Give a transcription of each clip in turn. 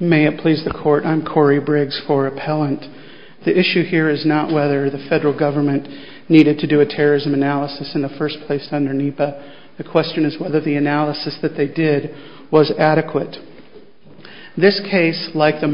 May it please the court, I'm Corey Briggs for Appellant. The issue here is not whether the federal government needed to do a terrorism analysis in the first place under NEPA. The question is whether the analysis that they did was adequate. This case, like the...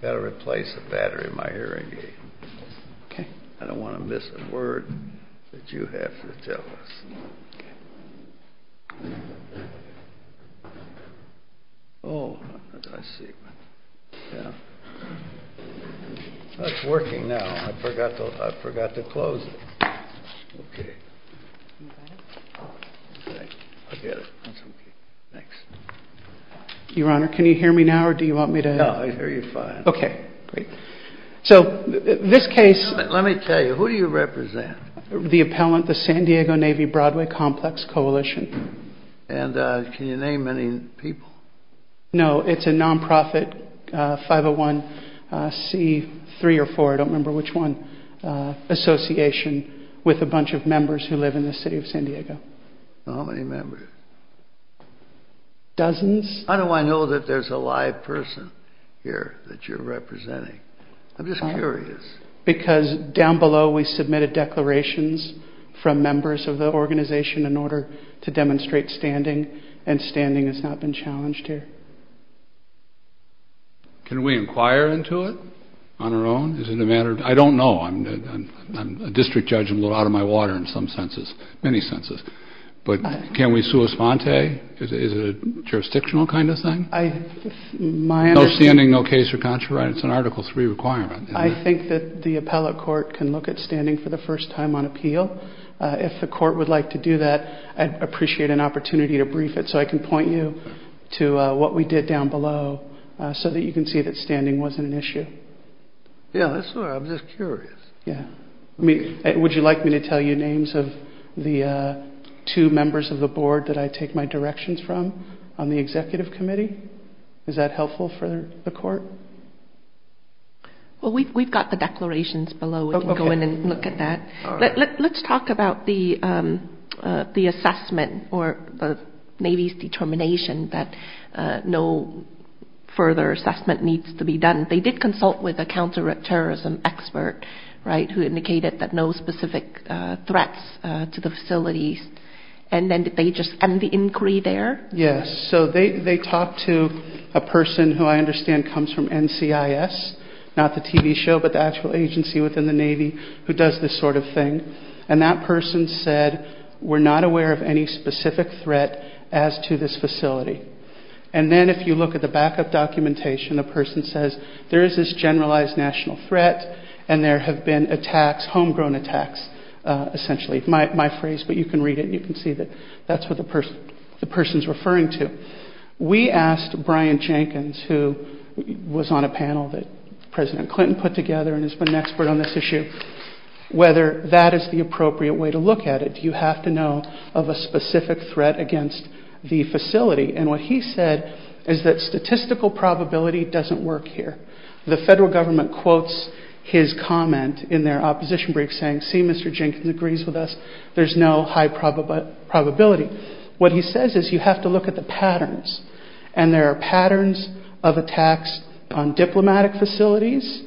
Better replace the battery in my hearing aid. I don't want to miss a word that you have to tell us. Oh, I see. It's working now. I forgot to close it. Your Honor, can you hear me now or do you want me to... No, I hear you fine. Okay, great. So, this case... Let me tell you, who do you represent? The appellant, the San Diego Navy Broadway Complex Coalition. And can you name any people? No, it's a non-profit, 501C3 or 4, I don't remember which one, association with a bunch of members who live in the city of San Diego. How many members? Dozens. How do I know that there's a live person here that you're representing? I'm just curious. Because down below we submitted declarations from members of the organization in order to demonstrate standing, and standing has not been challenged here. Can we inquire into it on our own? I don't know. I'm a district judge. I'm a little out of my water in some senses, many senses. But can we sua sponte? Is it a jurisdictional kind of thing? My understanding... No standing, no case for contrary. It's an Article III requirement. I think that the appellate court can look at standing for the first time on appeal. If the court would like to do that, I'd appreciate an opportunity to brief it so I can point you to what we did down below so that you can see that standing wasn't an issue. Yeah, that's all right. I'm just curious. Would you like me to tell you names of the two members of the board that I take my directions from on the executive committee? Is that helpful for the court? Well, we've got the declarations below. We can go in and look at that. Let's talk about the assessment or the Navy's determination that no further assessment needs to be done. They did consult with a counterterrorism expert, right, who indicated that no specific threats to the facilities. And then did they just end the inquiry there? Yes. So they talked to a person who I understand comes from NCIS, not the TV show but the actual agency within the Navy who does this sort of thing. And that person said we're not aware of any specific threat as to this facility. And then if you look at the backup documentation, the person says there is this generalized national threat and there have been attacks, homegrown attacks, essentially, my phrase. But you can read it and you can see that that's what the person is referring to. We asked Brian Jenkins, who was on a panel that President Clinton put together and has been an expert on this issue, whether that is the appropriate way to look at it. Do you have to know of a specific threat against the facility? And what he said is that statistical probability doesn't work here. The federal government quotes his comment in their opposition brief saying, see, Mr. Jenkins agrees with us, there's no high probability. What he says is you have to look at the patterns. And there are patterns of attacks on diplomatic facilities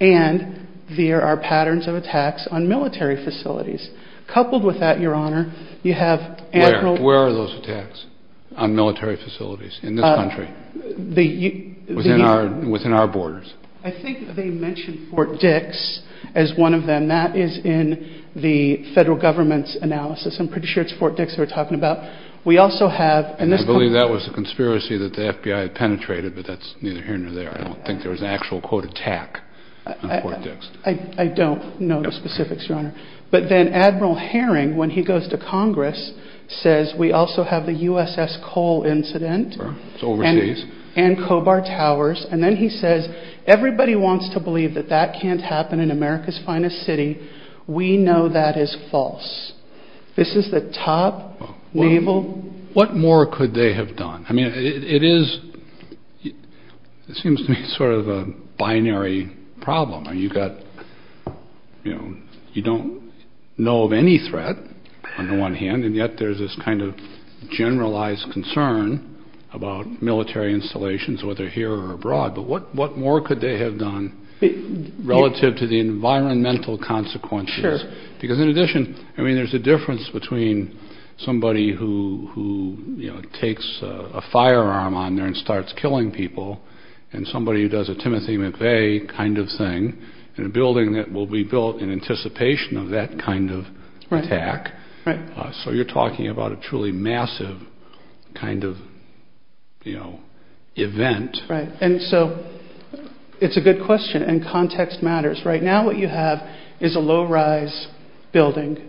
and there are patterns of attacks on military facilities. Coupled with that, Your Honor, you have anti- Where are those attacks on military facilities in this country within our borders? I think they mentioned Fort Dix as one of them. That is in the federal government's analysis. I'm pretty sure it's Fort Dix they were talking about. I believe that was a conspiracy that the FBI had penetrated, but that's neither here nor there. I don't think there was an actual, quote, attack on Fort Dix. I don't know the specifics, Your Honor. But then Admiral Herring, when he goes to Congress, says we also have the USS Cole incident. It's overseas. And Kobar Towers. And then he says everybody wants to believe that that can't happen in America's finest city. We know that is false. This is the top naval- What more could they have done? I mean, it is, it seems to me sort of a binary problem. You've got, you know, you don't know of any threat on the one hand, and yet there's this kind of generalized concern about military installations, whether here or abroad. But what more could they have done relative to the environmental consequences? Because in addition, I mean, there's a difference between somebody who, you know, takes a firearm on there and starts killing people and somebody who does a Timothy McVeigh kind of thing in a building that will be built in anticipation of that kind of attack. Right. So you're talking about a truly massive kind of, you know, event. Right. And so it's a good question, and context matters. Right now what you have is a low-rise building.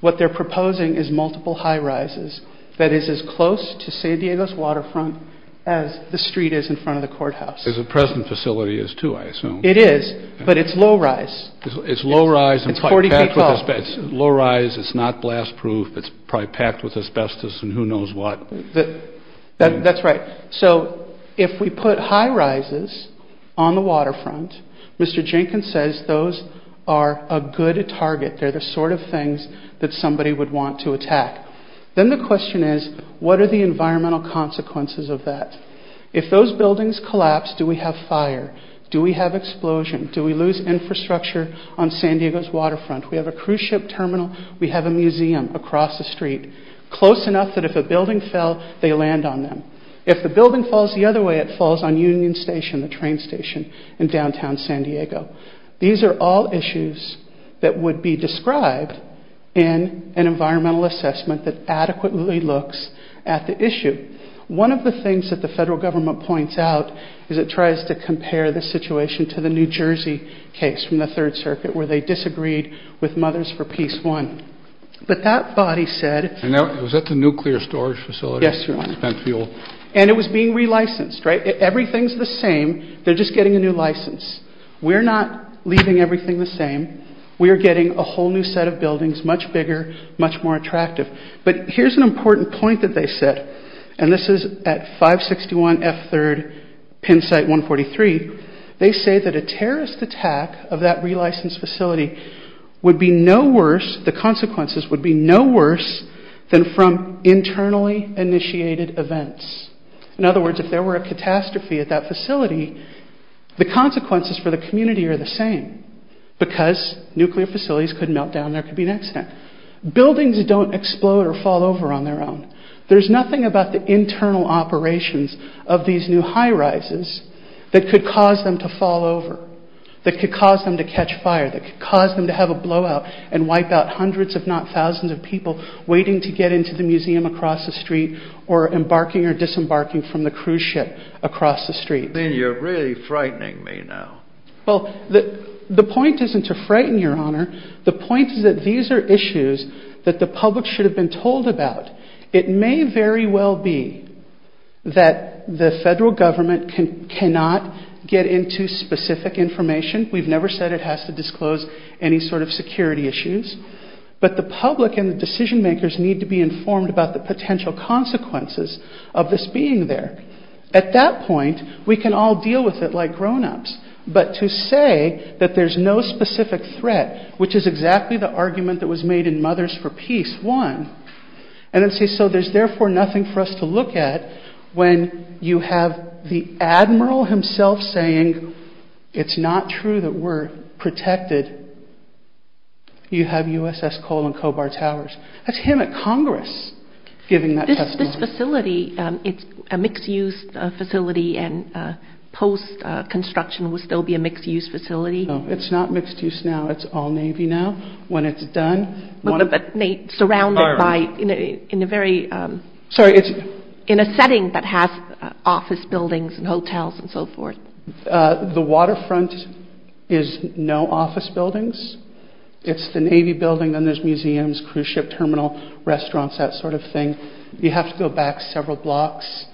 What they're proposing is multiple high-rises that is as close to San Diego's waterfront as the street is in front of the courthouse. As the present facility is, too, I assume. It is, but it's low-rise. It's low-rise. It's 40 feet tall. It's low-rise. It's not blast-proof. It's probably packed with asbestos and who knows what. That's right. So if we put high-rises on the waterfront, Mr. Jenkins says those are a good target. They're the sort of things that somebody would want to attack. Then the question is, what are the environmental consequences of that? If those buildings collapse, do we have fire? Do we have explosion? Do we lose infrastructure on San Diego's waterfront? We have a cruise ship terminal. We have a museum across the street close enough that if a building fell, they land on them. If the building falls the other way, it falls on Union Station, the train station in downtown San Diego. These are all issues that would be described in an environmental assessment that adequately looks at the issue. One of the things that the federal government points out is it tries to compare the situation to the New Jersey case from the Third Circuit where they disagreed with Mothers for Peace I. But that body said... Was that the nuclear storage facility? Yes, Your Honor. And it was being re-licensed, right? Everything's the same. They're just getting a new license. We're not leaving everything the same. We are getting a whole new set of buildings, much bigger, much more attractive. But here's an important point that they said, and this is at 561 F. 3rd, Pennsite 143. They say that a terrorist attack of that re-licensed facility would be no worse, the consequences would be no worse than from internally initiated events. In other words, if there were a catastrophe at that facility, the consequences for the community are the same because nuclear facilities could melt down, there could be an accident. Buildings don't explode or fall over on their own. There's nothing about the internal operations of these new high-rises that could cause them to fall over, that could cause them to catch fire, that could cause them to have a blowout and wipe out hundreds if not thousands of people waiting to get into the museum across the street or embarking or disembarking from the cruise ship across the street. Then you're really frightening me now. Well, the point isn't to frighten you, Your Honor. The point is that these are issues that the public should have been told about. It may very well be that the federal government cannot get into specific information. We've never said it has to disclose any sort of security issues. But the public and the decision-makers need to be informed about the potential consequences of this being there. At that point, we can all deal with it like grown-ups. But to say that there's no specific threat, which is exactly the argument that was made in Mothers for Peace 1, and then say, so there's therefore nothing for us to look at when you have the admiral himself saying, it's not true that we're protected, you have USS Cole and Cobar Towers. That's him at Congress giving that testimony. This facility, it's a mixed-use facility and post-construction will still be a mixed-use facility? No, it's not mixed-use now. It's all Navy now. Surrounded in a setting that has office buildings and hotels and so forth? The waterfront is no office buildings. It's the Navy building, then there's museums, cruise ship terminal, restaurants, that sort of thing. You have to go back several blocks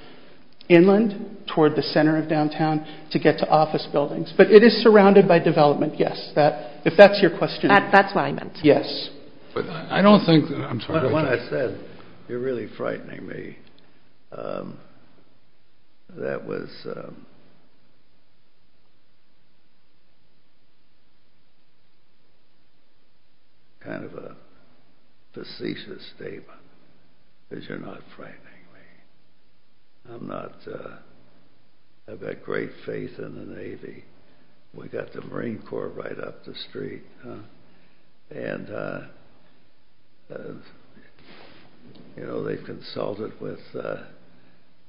inland toward the center of downtown to get to office buildings. But it is surrounded by development, yes. If that's your question. That's what I meant. Yes. When I said, you're really frightening me, that was kind of a facetious statement, because you're not frightening me. I've got great faith in the Navy. We've got the Marine Corps right up the street. They've consulted with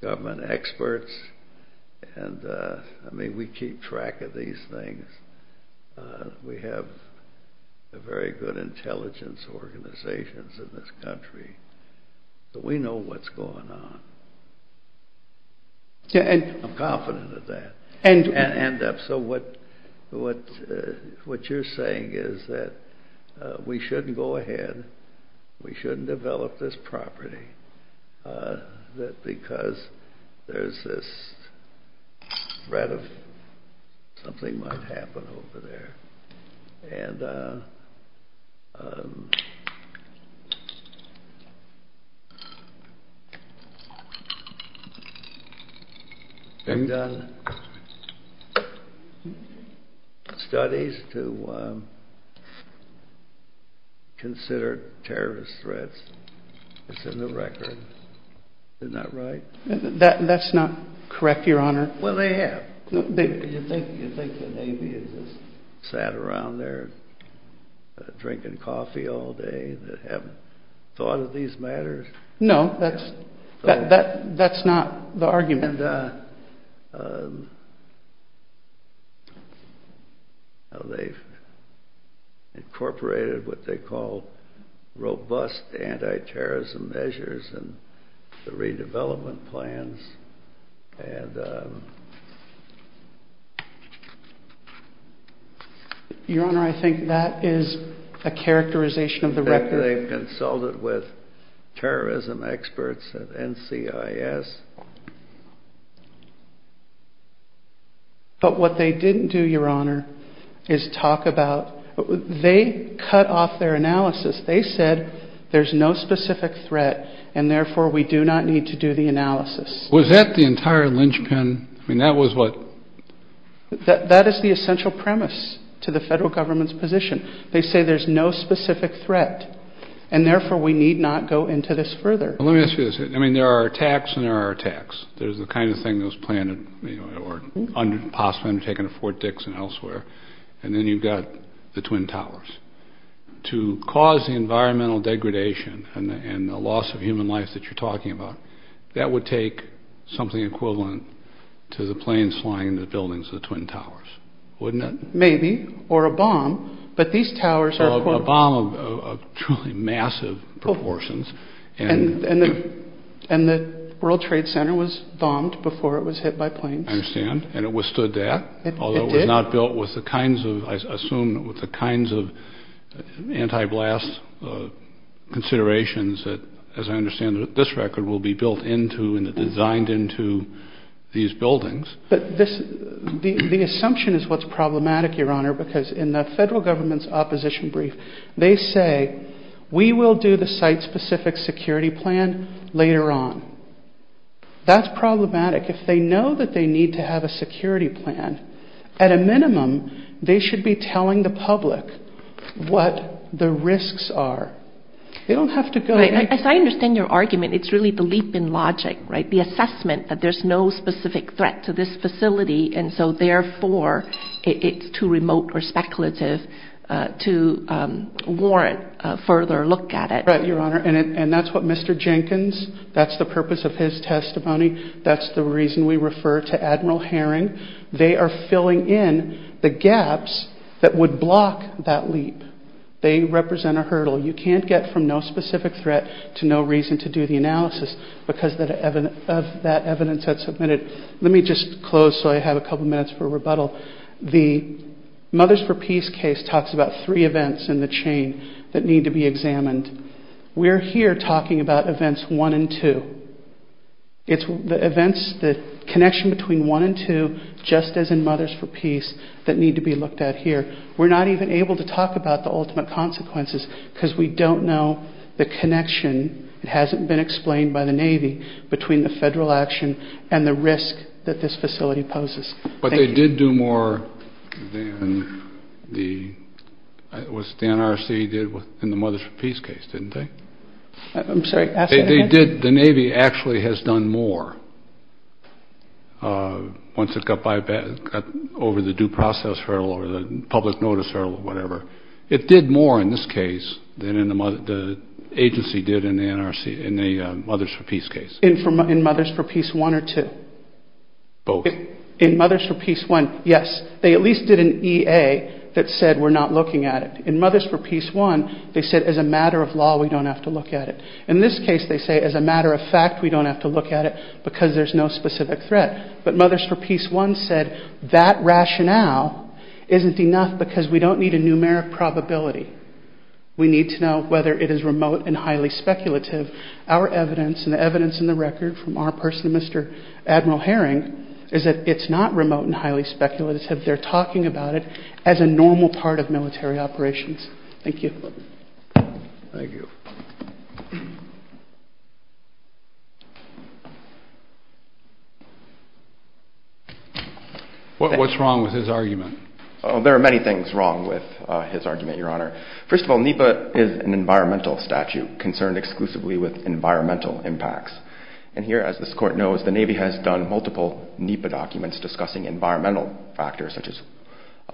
government experts. We keep track of these things. We have very good intelligence organizations in this country. We know what's going on. I'm confident of that. What you're saying is that we shouldn't go ahead, we shouldn't develop this property, because there's this threat of something might happen over there. Studies to consider terrorist threats. It's in the record. Isn't that right? That's not correct, Your Honor. Well, they have. You think the Navy is just sat around there drinking coffee all day that haven't thought of these matters? No, that's not the argument. And they've incorporated what they call robust anti-terrorism measures and the redevelopment plans. Your Honor, I think that is a characterization of the record. They've consulted with terrorism experts at NCIS. But what they didn't do, Your Honor, is talk about, they cut off their analysis. They said there's no specific threat and therefore we do not need to do the analysis. Was that the entire linchpin? I mean, that was what? That is the essential premise to the federal government's position. They say there's no specific threat and therefore we need not go into this further. Let me ask you this. I mean, there are attacks and there are attacks. There's the kind of thing that was planned or possibly undertaken at Fort Dixon and elsewhere, and then you've got the Twin Towers. To cause the environmental degradation and the loss of human life that you're talking about, that would take something equivalent to the planes flying into the buildings of the Twin Towers, wouldn't it? Maybe, or a bomb. But these towers are- A bomb of truly massive proportions. And the World Trade Center was bombed before it was hit by planes. I understand. And it withstood that? It did. Although it was not built with the kinds of, I assume, with the kinds of anti-blast considerations that, as I understand it, this record will be built into and designed into these buildings. But the assumption is what's problematic, Your Honor, because in the federal government's opposition brief, they say we will do the site-specific security plan later on. That's problematic. If they know that they need to have a security plan, at a minimum they should be telling the public what the risks are. They don't have to go- As I understand your argument, it's really the leap in logic, right? The assessment that there's no specific threat to this facility, and so therefore it's too remote or speculative to warrant a further look at it. Right, Your Honor. And that's what Mr. Jenkins, that's the purpose of his testimony, that's the reason we refer to Admiral Herring. They are filling in the gaps that would block that leap. They represent a hurdle. You can't get from no specific threat to no reason to do the analysis because of that evidence that's submitted. Let me just close so I have a couple minutes for rebuttal. The Mothers for Peace case talks about three events in the chain that need to be examined. We're here talking about events one and two. It's the connection between one and two, just as in Mothers for Peace, that need to be looked at here. We're not even able to talk about the ultimate consequences because we don't know the connection. It hasn't been explained by the Navy between the federal action and the risk that this facility poses. But they did do more than the NRC did in the Mothers for Peace case, didn't they? I'm sorry, ask that again. The Navy actually has done more once it got over the due process hurdle or the public notice hurdle or whatever. It did more in this case than the agency did in the Mothers for Peace case. In Mothers for Peace 1 or 2? Both. In Mothers for Peace 1, yes. They at least did an EA that said we're not looking at it. In Mothers for Peace 1, they said as a matter of law, we don't have to look at it. In this case, they say as a matter of fact, we don't have to look at it because there's no specific threat. But Mothers for Peace 1 said that rationale isn't enough because we don't need a numeric probability. We need to know whether it is remote and highly speculative. Our evidence and the evidence in the record from our person, Mr. Admiral Herring, is that it's not remote and highly speculative. They're talking about it as a normal part of military operations. Thank you. Thank you. What's wrong with his argument? There are many things wrong with his argument, Your Honor. First of all, NEPA is an environmental statute concerned exclusively with environmental impacts. And here, as this court knows, the Navy has done multiple NEPA documents discussing environmental factors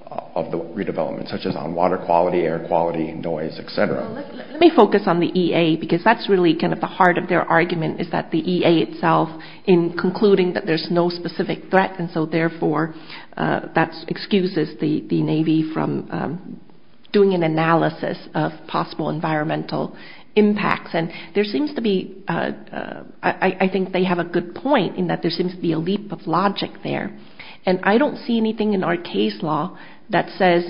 of the redevelopment, such as on water quality, air quality, noise, et cetera. Let me focus on the EA because that's really kind of the heart of their argument is that the EA itself in concluding that there's no specific threat and so therefore that excuses the Navy from doing an analysis of possible environmental impacts. And there seems to be, I think they have a good point in that there seems to be a leap of logic there. And I don't see anything in our case law that says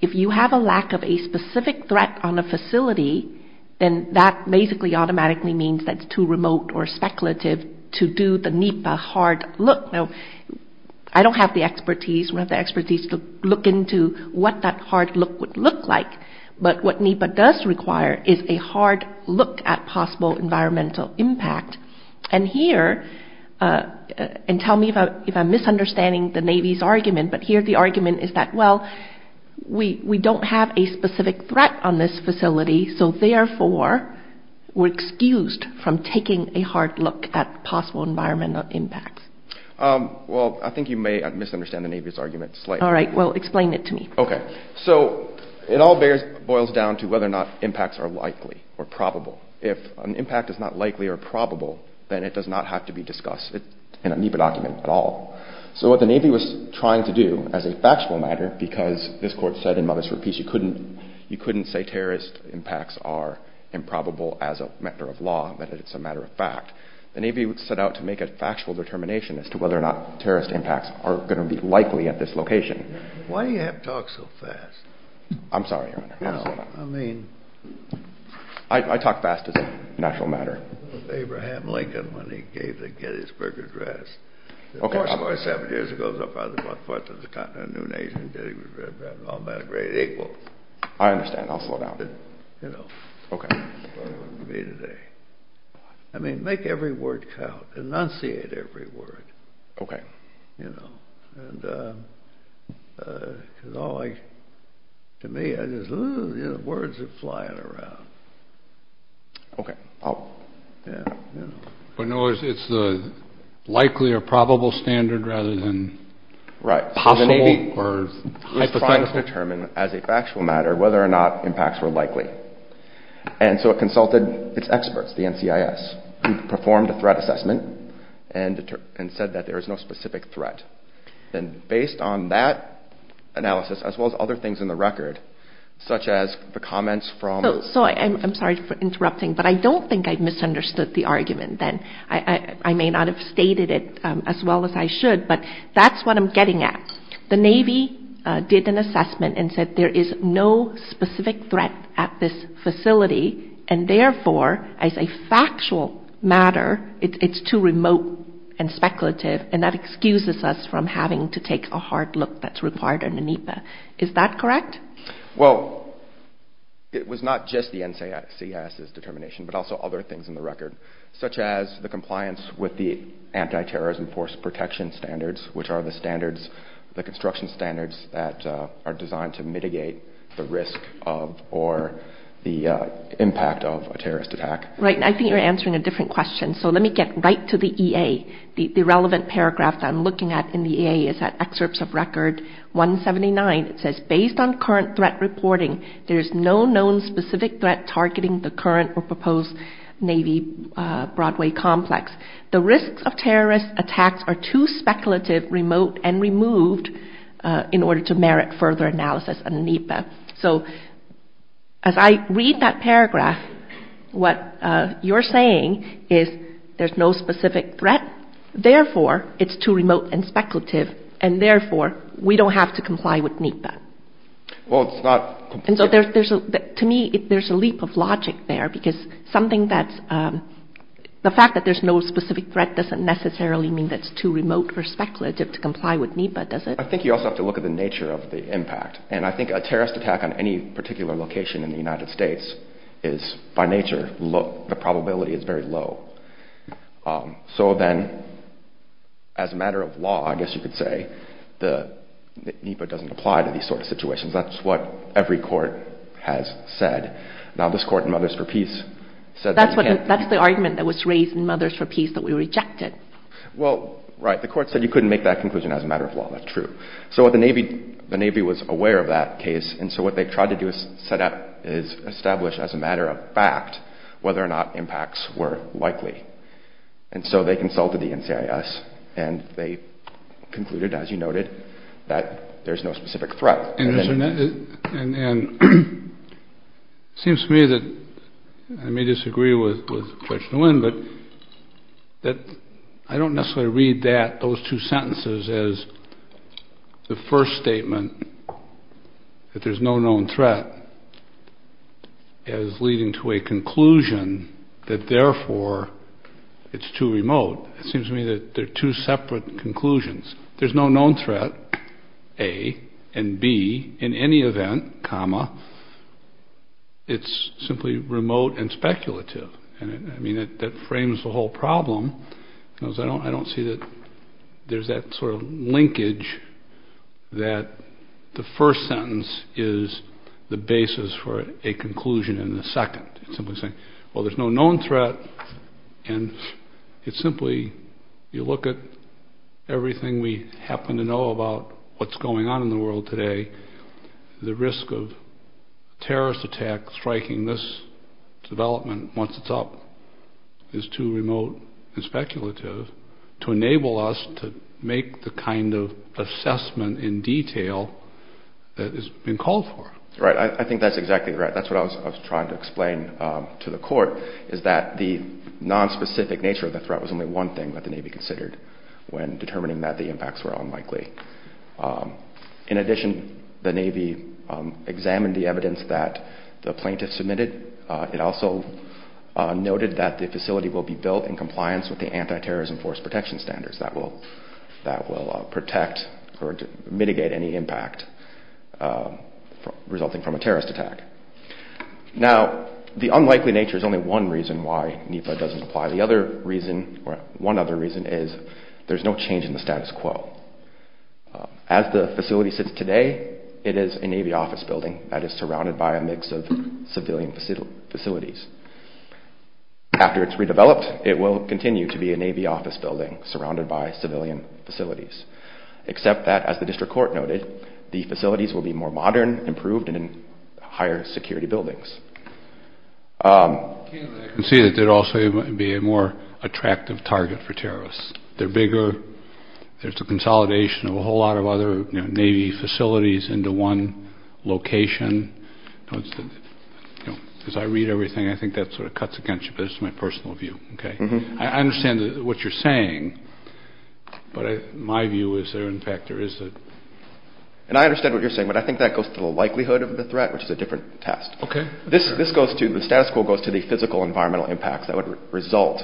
if you have a lack of a specific threat on a facility, then that basically automatically means that it's too remote or speculative to do the NEPA hard look. Now, I don't have the expertise. We don't have the expertise to look into what that hard look would look like. But what NEPA does require is a hard look at possible environmental impact. And here, and tell me if I'm misunderstanding the Navy's argument, but here the argument is that, well, we don't have a specific threat on this facility so therefore we're excused from taking a hard look at possible environmental impacts. Well, I think you may misunderstand the Navy's argument slightly. All right. Well, explain it to me. Okay. So it all boils down to whether or not impacts are likely or probable. If an impact is not likely or probable, then it does not have to be discussed in a NEPA document at all. So what the Navy was trying to do as a factual matter, because this court said in Mothers for Peace you couldn't say terrorist impacts are improbable as a matter of law, that it's a matter of fact, the Navy would set out to make a factual determination as to whether or not terrorist impacts are going to be likely at this location. Why do you have to talk so fast? I'm sorry, Your Honor. I'll slow down. No, I mean... I talk fast as a natural matter. Abraham Lincoln, when he gave the Gettysburg Address. Of course, 47 years ago, our father was one-fourth of the continent, a new nation, and Gettysburg was all but a great equal. I understand. I'll slow down. You know. Okay. I mean, make every word count. Enunciate every word. Okay. You know. To me, words are flying around. Okay. But, in other words, it's the likely or probable standard rather than possible or hypothetical. Right. So the Navy was trying to determine as a factual matter whether or not impacts were likely. And so it consulted its experts, the NCIS, who performed a threat assessment and said that there is no specific threat. And based on that analysis, as well as other things in the record, such as the comments from... So I'm sorry for interrupting, but I don't think I misunderstood the argument then. I may not have stated it as well as I should, but that's what I'm getting at. The Navy did an assessment and said there is no specific threat at this facility, and therefore, as a factual matter, it's too remote and speculative, and that excuses us from having to take a hard look that's required under NEPA. Is that correct? Well, it was not just the NCIS's determination, but also other things in the record, such as the compliance with the anti-terrorism force protection standards, which are the standards, the construction standards that are designed to mitigate the risk of or the impact of a terrorist attack. Right, and I think you're answering a different question. So let me get right to the EA. The relevant paragraph that I'm looking at in the EA is that excerpts of record 179. It says, based on current threat reporting, there is no known specific threat targeting the current or proposed Navy-Broadway complex. The risks of terrorist attacks are too speculative, remote, and removed in order to merit further analysis under NEPA. So as I read that paragraph, what you're saying is there's no specific threat, therefore, it's too remote and speculative, and therefore, we don't have to comply with NEPA. Well, it's not... To me, there's a leap of logic there, because the fact that there's no specific threat doesn't necessarily mean that it's too remote or speculative to comply with NEPA, does it? I think you also have to look at the nature of the impact. And I think a terrorist attack on any particular location in the United States is, by nature, the probability is very low. So then, as a matter of law, I guess you could say, NEPA doesn't apply to these sort of situations. That's what every court has said. Now, this court in Mothers for Peace said... That's the argument that was raised in Mothers for Peace that we rejected. Well, right, the court said you couldn't make that conclusion as a matter of law. That's true. So the Navy was aware of that case, and so what they tried to do is establish as a matter of fact whether or not impacts were likely. And so they consulted the NCIS, and they concluded, as you noted, that there's no specific threat. And it seems to me that I may disagree with Judge Nguyen, but I don't necessarily read that, those two sentences, as the first statement that there's no known threat as leading to a conclusion that, therefore, it's too remote. It seems to me that they're two separate conclusions. There's no known threat, A, and B, in any event, comma, it's simply remote and speculative. I mean, that frames the whole problem. I don't see that there's that sort of linkage that the first sentence is the basis for a conclusion in the second. It's simply saying, well, there's no known threat, and it's simply you look at everything we happen to know about what's going on in the world today, the risk of a terrorist attack striking this development once it's up is too remote and speculative to enable us to make the kind of assessment in detail that has been called for. Right. I think that's exactly right. That's what I was trying to explain to the Court is that the nonspecific nature of the threat was only one thing that the Navy considered when determining that the impacts were unlikely. In addition, the Navy examined the evidence that the plaintiff submitted. It also noted that the facility will be built in compliance with the anti-terrorism force protection standards that will protect or mitigate any impact resulting from a terrorist attack. Now, the unlikely nature is only one reason why NEPA doesn't apply. One other reason is there's no change in the status quo. As the facility sits today, it is a Navy office building that is surrounded by a mix of civilian facilities. After it's redeveloped, it will continue to be a Navy office building surrounded by civilian facilities, except that, as the District Court noted, the facilities will be more modern, improved, and in higher security buildings. I can see that there would also be a more attractive target for terrorists. They're bigger. There's a consolidation of a whole lot of other Navy facilities into one location. As I read everything, I think that sort of cuts against you, but this is my personal view. I understand what you're saying, but my view is there, in fact, there is a – and I understand what you're saying, but I think that goes to the likelihood of the threat, which is a different test. Okay. This goes to – the status quo goes to the physical environmental impacts that would result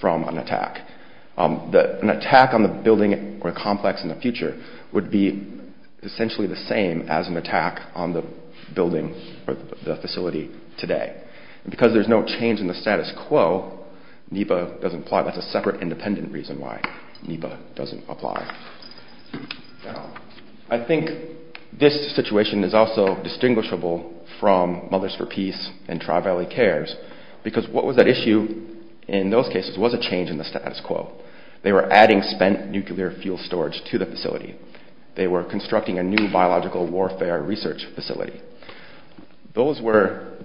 from an attack. An attack on the building or a complex in the future would be essentially the same as an attack on the building or the facility today. And because there's no change in the status quo, NEPA doesn't apply. I think this situation is also distinguishable from Mothers for Peace and Tri-Valley Cares because what was at issue in those cases was a change in the status quo. They were adding spent nuclear fuel storage to the facility. They were constructing a new biological warfare research facility. Those were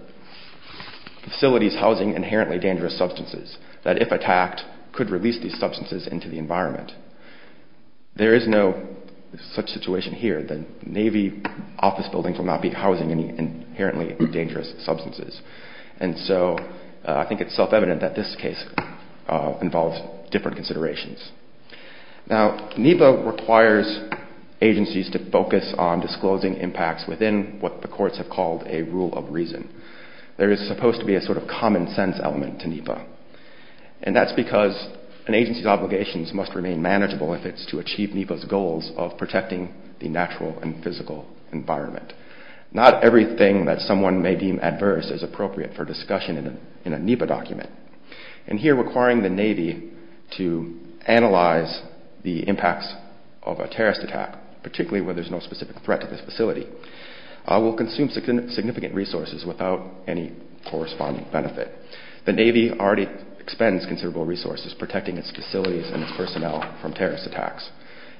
facilities housing inherently dangerous substances that, if attacked, could release these substances into the environment. There is no such situation here. The Navy office buildings will not be housing any inherently dangerous substances. And so I think it's self-evident that this case involves different considerations. Now, NEPA requires agencies to focus on disclosing impacts within what the courts have called a rule of reason. There is supposed to be a sort of common sense element to NEPA, and that's because an agency's obligations must remain manageable if it's to achieve NEPA's goals of protecting the natural and physical environment. Not everything that someone may deem adverse is appropriate for discussion in a NEPA document. And here requiring the Navy to analyze the impacts of a terrorist attack, particularly where there's no specific threat to this facility, will consume significant resources without any corresponding benefit. The Navy already expends considerable resources protecting its facilities and its personnel from terrorist attacks.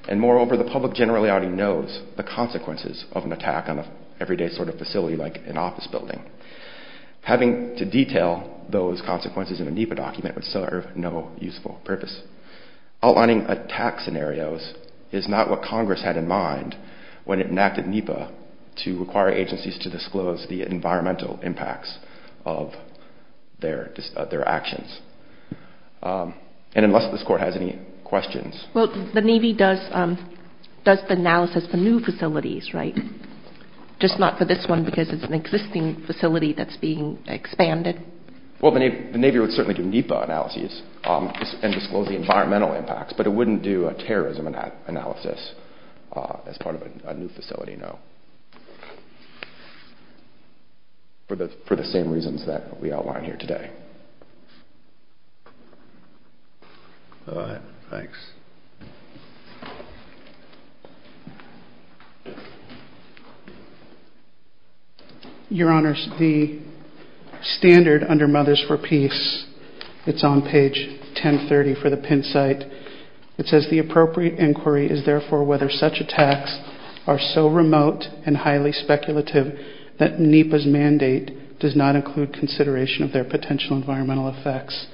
And moreover, the public generally already knows the consequences of an attack on an everyday sort of facility like an office building. Having to detail those consequences in a NEPA document would serve no useful purpose. Outlining attack scenarios is not what Congress had in mind when it enacted NEPA to require agencies to disclose the environmental impacts of their actions. And unless this Court has any questions. Well, the Navy does the analysis for new facilities, right? Just not for this one because it's an existing facility that's being expanded. Well, the Navy would certainly do NEPA analyses and disclose the environmental impacts, but it wouldn't do a terrorism analysis as part of a new facility, no. For the same reasons that we outline here today. Go ahead. Thanks. Your Honors, the standard under Mothers for Peace, it's on page 1030 for the Penn site. It says, the appropriate inquiry is therefore whether such attacks are so remote and highly speculative that NEPA's mandate does not include consideration of their potential environmental effects.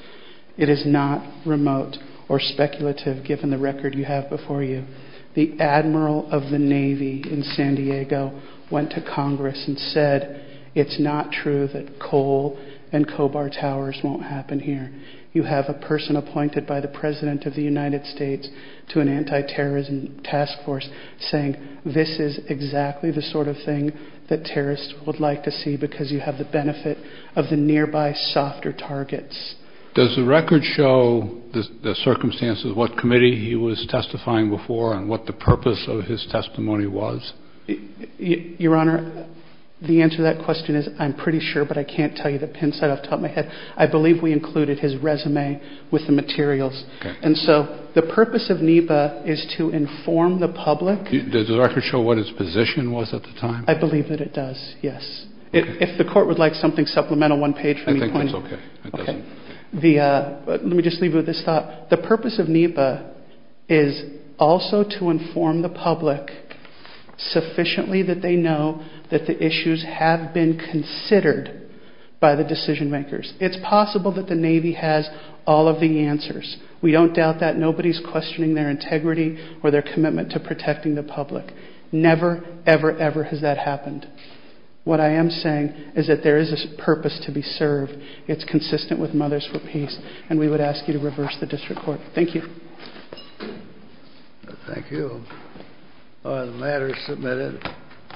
It is not remote or speculative given the record you have before you. The Admiral of the Navy in San Diego went to Congress and said, it's not true that coal and cobalt towers won't happen here. You have a person appointed by the President of the United States to an anti-terrorism task force saying this is exactly the sort of thing that terrorists would like to see because you have the benefit of the nearby softer targets. Does the record show the circumstances of what committee he was testifying before and what the purpose of his testimony was? Your Honor, the answer to that question is I'm pretty sure, but I can't tell you the Penn site off the top of my head. I believe we included his resume with the materials. And so the purpose of NEPA is to inform the public. Does the record show what his position was at the time? I believe that it does, yes. If the Court would like something supplemental, one page from your point of view. I think that's okay. Let me just leave you with this thought. The purpose of NEPA is also to inform the public sufficiently that they know that the issues have been considered by the decision makers. It's possible that the Navy has all of the answers. We don't doubt that. Nobody is questioning their integrity or their commitment to protecting the public. Never, ever, ever has that happened. What I am saying is that there is a purpose to be served. It's consistent with Mothers for Peace. And we would ask you to reverse the district court. Thank you. Thank you. The matter is submitted.